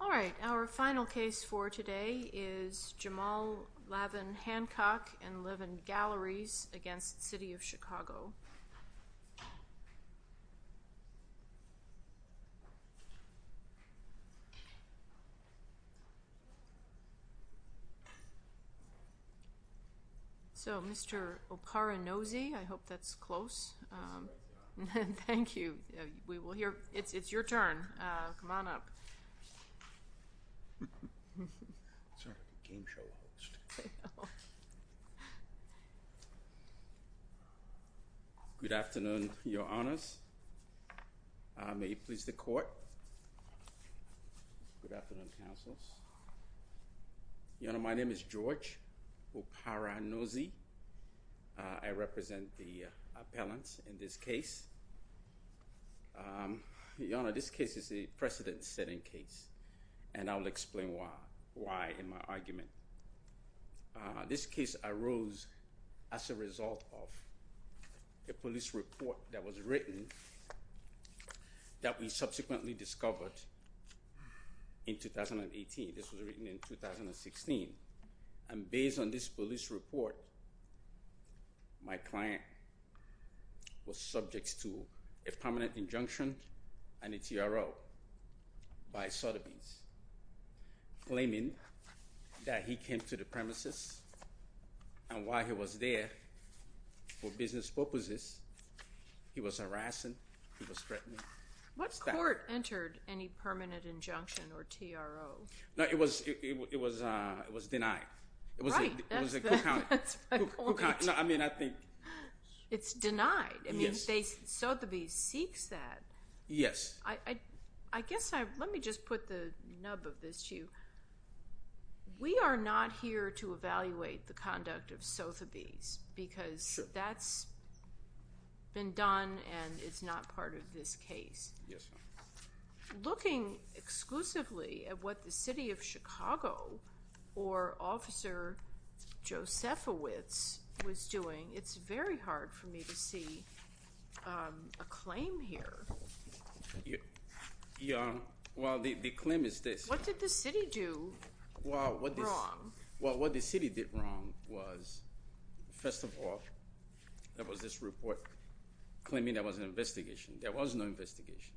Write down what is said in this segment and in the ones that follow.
All right, our final case for today is Jamal Lavin Hancock and Levan Galleries against So Mr. Oparanozzi, I hope that's close. Thank you. We will hear, it's your turn. Come on up. Good afternoon, your honors. May you please the court. Good afternoon, Oparanozzi. I represent the appellants in this case. Your honor, this case is a precedent-setting case and I will explain why in my argument. This case arose as a result of a police report that was written that we subsequently discovered in 2018. This was written in 2016 and based on this police report, my client was subject to a permanent injunction and a TRO by Sotheby's claiming that he came to the premises and while he was there for business what was this? He was harassing, he was threatening. What court entered any permanent injunction or TRO? No, it was, it was, it was denied. I mean, I think it's denied. I mean, Sotheby's seeks that. Yes. I guess I, let me just put the nub of this to you. We are not here to evaluate the conduct of Sotheby's because that's been done and it's not part of this case. Yes, ma'am. Looking exclusively at what the City of Chicago or Officer Josefowicz was doing, it's very hard for me to see a claim here. Yeah, well, the claim is this. What did the city do wrong? Well, what the city did wrong was, first of all, there was this report claiming there was an investigation. There was no investigation.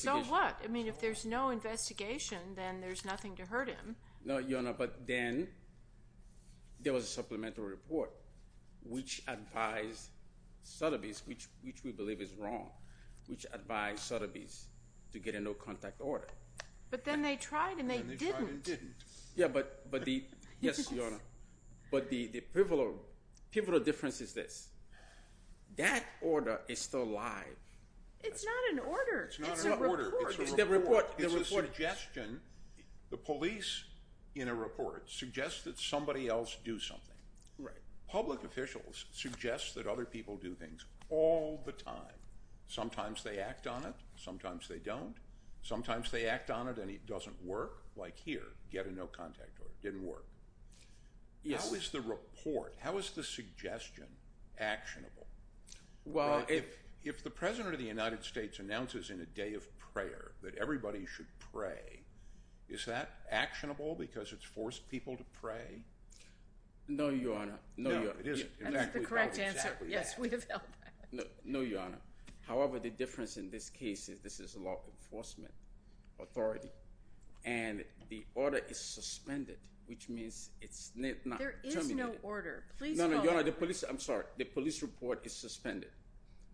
So what? I mean, if there's no investigation then there's nothing to hurt him. No, Your Honor, but then there was a supplemental report which advised Sotheby's, which we believe is wrong, which advised Sotheby's to get a no-contact order. But then they Yes, Your Honor, but the pivotal difference is this. That order is still live. It's not an order. It's a report. It's a report. It's a suggestion. The police, in a report, suggests that somebody else do something. Right. Public officials suggest that other people do things all the time. Sometimes they act on it, sometimes they don't. Sometimes they act on it and it doesn't work, like here, get a no-contact order. It didn't work. Yes. How is the report, how is the suggestion actionable? Well, if the President of the United States announces in a day of prayer that everybody should pray, is that actionable because it's forced people to pray? No, Your Honor. No, it isn't. That's the correct answer. Yes, we have felt that. No, Your Honor. However, the difference in this case is this is a law enforcement authority and the order is suspended, which means it's not terminated. There is no order. No, Your Honor, the police, I'm sorry, the police report is suspended.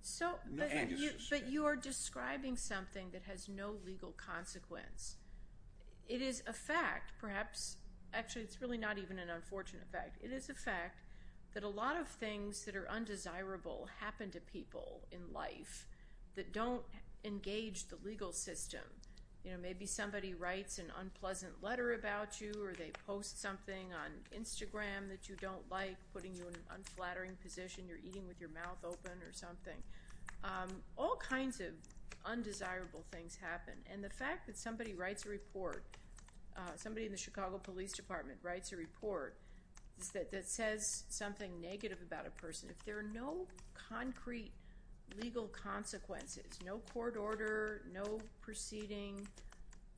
So, but you are describing something that has no legal consequence. It is a fact, perhaps, actually it's really not even an unfortunate fact. It is a fact that a lot of things that are undesirable happen to people in life that don't engage the legal system. You know, maybe somebody writes an unpleasant letter about you or they post something on Instagram that you don't like, putting you in an unflattering position, you're eating with your mouth open or something. All kinds of undesirable things happen and the fact that somebody writes a report, somebody in the Chicago Police Department writes a report that says something negative about a person, if there are no concrete legal consequences, no court order, no proceeding,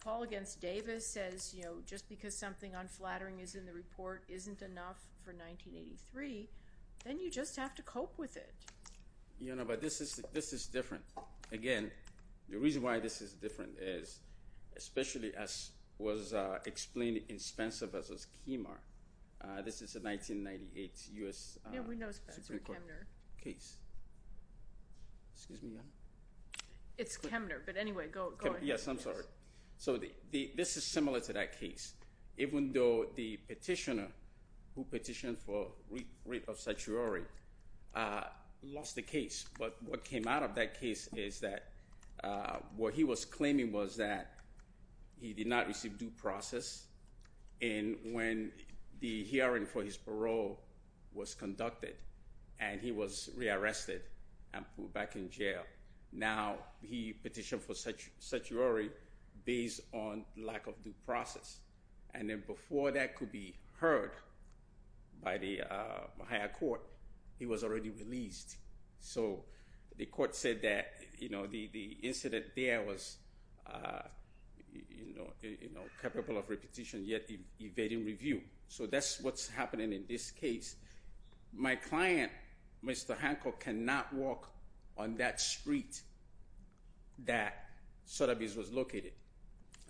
Paul against Davis says, you know, just because something unflattering is in the report isn't enough for 1983, then you just have to cope with it. Your Honor, but this is, this is different. Again, the reason why this is different is, especially as was explained in Spencer versus Kimmer, this is a 1998 U.S. Supreme Court case. Yeah, we know Spencer and Kimmer. Excuse me, Your Honor? It's Kimmer, but anyway, go ahead. Yes, I'm sorry. So, this is similar to that case. Even though the petitioner who petitioned for writ of satiori lost the case, but what came out of that case is that what he was claiming was that he did not receive due process, and when the hearing for his parole was conducted and he was rearrested and put back in jail, now he petitioned for satiori based on lack of due process, and then before that could be heard by the higher court, he was already released. So, the court said that, you know, the incident there was, you know, capable of repetition, yet evading review. So, that's what's happening in this case. My client, Mr. Hancock, cannot walk on that street that Sotheby's was located,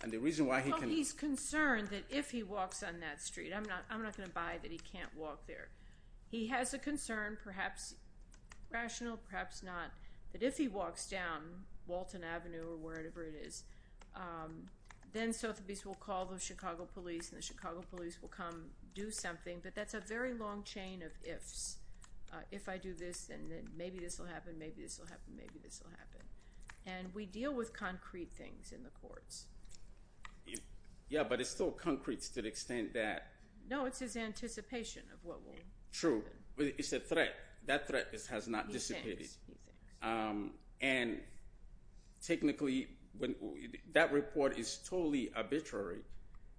and the reason why he can... He's concerned that if he walks on that street, I'm not, I'm not gonna buy that he can't walk there. He has a concern, perhaps rational, perhaps not, that if he walks down Walton Avenue or wherever it is, then Sotheby's will call the Chicago Police, and the Chicago Police will come do something, but that's a very long chain of ifs. If I do this, and then maybe this will happen, maybe this will happen, maybe this will happen, and we deal with concrete things in the courts. Yeah, but it's still concrete to the extent that... No, it's his anticipation of what will happen. True. It's a threat. That threat has not been anticipated, and technically, that report is totally arbitrary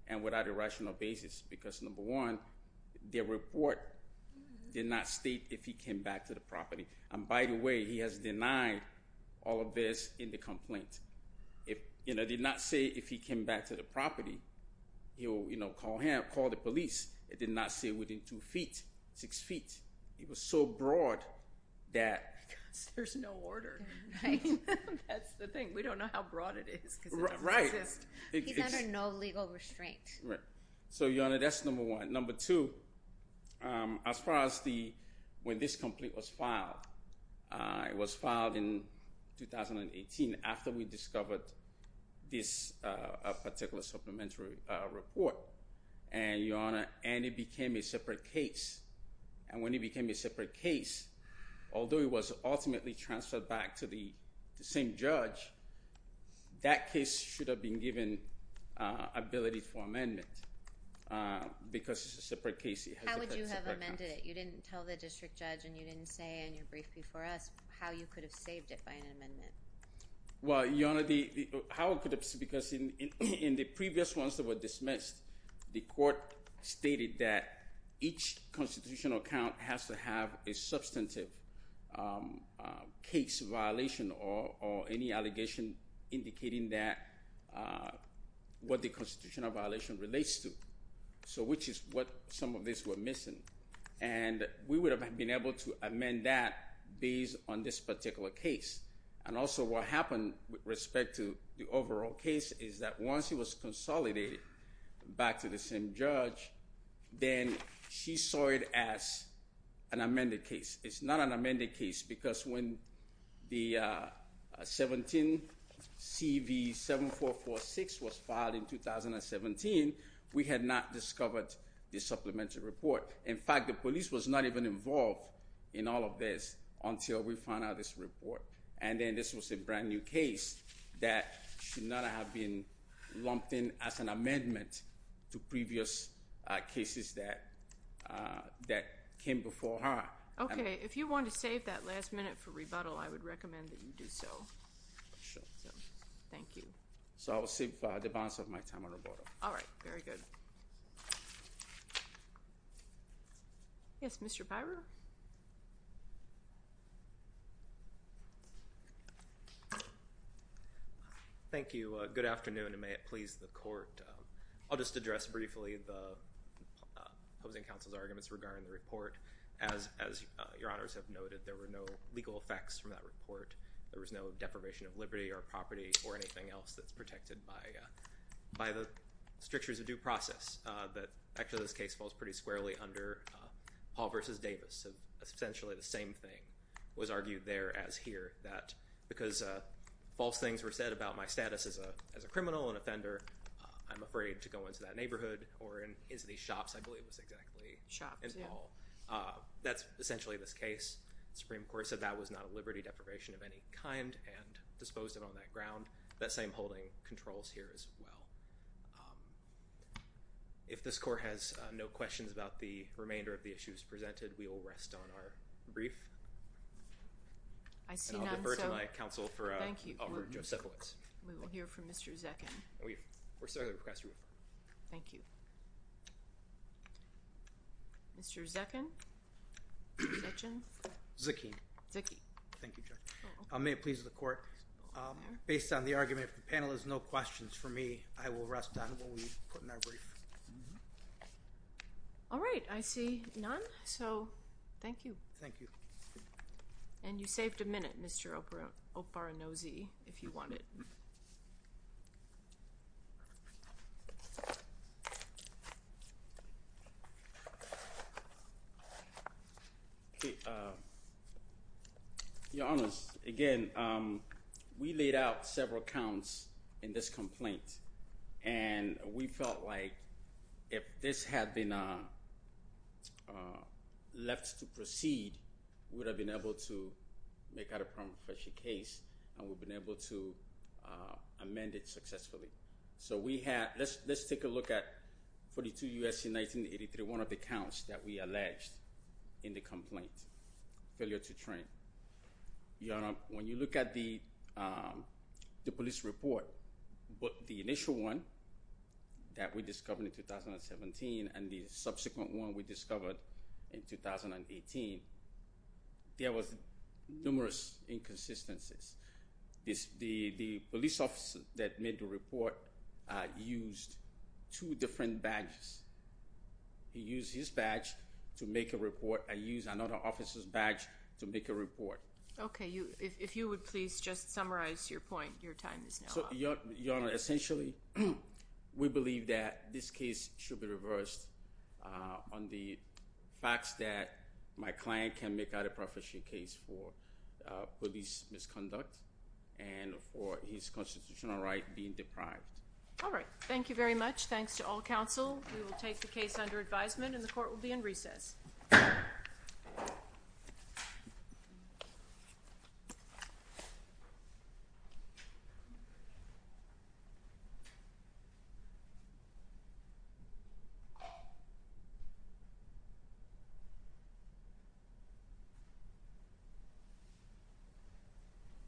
and without a rational basis, because number one, their report did not state if he came back to the property, and by the way, he has denied all of this in the complaint. If, you know, did not say if he came back to the property, he'll, you know, call him, call the police. It did not say within two feet, six feet. It was so broad that there's no order. That's the thing. We don't know how broad it is. Right. He's under no legal restraint. Right. So, Your Honor, that's number one. Number two, as far as the, when this complaint was filed, it was filed in 2018 after we discovered this particular supplementary report, and Your Honor, and it became a separate case, and when it was ultimately transferred back to the same judge, that case should have been given ability for amendment, because it's a separate case. How would you have amended it? You didn't tell the district judge, and you didn't say in your brief before us how you could have saved it by an amendment. Well, Your Honor, the, how it could have, because in the previous ones that were dismissed, the court stated that each constitutional account has to have a substantive case violation or any allegation indicating that, what the constitutional violation relates to. So, which is what some of these were missing, and we would have been able to amend that based on this particular case, and also what happened with respect to the overall case is that once it was consolidated back to the same judge, then she saw it as an amended case. It's not an amended case, because when the 17 CV 7446 was filed in 2017, we had not discovered the supplementary report. In fact, the police was not even involved in all of this until we found out this report, and then this was a lumped in as an amendment to previous cases that that came before her. Okay, if you want to save that last minute for rebuttal, I would recommend that you do so. Thank you. So, I will save the balance of my time on rebuttal. All right, very good. Yes, Mr. Byrer. Thank you. Good afternoon, and may it please the court. I'll just address briefly the opposing counsel's arguments regarding the report. As your honors have noted, there were no legal effects from that report. There was no deprivation of liberty or property or anything else that's protected by the strictures of due process. Actually, this case falls pretty squarely under Paul v. Davis. Essentially the same thing was argued there as here, that because false things were said about my status as a criminal, an offender, I'm afraid to go into that neighborhood or into these shops, I believe it was exactly in Paul. That's essentially this case. The Supreme Court said that was not a liberty deprivation of any kind and disposed of on that ground. That same holding controls here as well. If this court has no questions about the remainder of the issues presented, we will rest on our brief. I see none, so thank you. We will hear from Mr. Zekin. Thank you. Mr. Zekin. Zekin. Thank you, Judge. May it please the court. Based on the argument, if the panel has no questions for me, I will rest on what we put in our brief. All right, I see none, so thank you. Thank you. And you saved a minute, Mr. Oparanozzi, if you want it. Your Honors, again, we laid out several counts in this complaint and we felt like if this had been left to proceed, we would have been able to make out a more official case and we've been able to amend it successfully. So we had, let's let's take a look at 42 U.S.C. 1983, one of the counts that we alleged in the complaint, failure to train. Your Honor, when you look at the police report, but the initial one that we discovered in 2017 and the subsequent one we found inconsistencies. The police officer that made the report used two different badges. He used his badge to make a report and used another officer's badge to make a report. Okay, if you would please just summarize your point. Your time is now up. Your Honor, essentially we believe that this case should be reversed on the facts that my client can make out a proficient case for police misconduct and for his constitutional right being deprived. All right, thank you very much. Thanks to all counsel. We will take the case under advisement and the court is adjourned.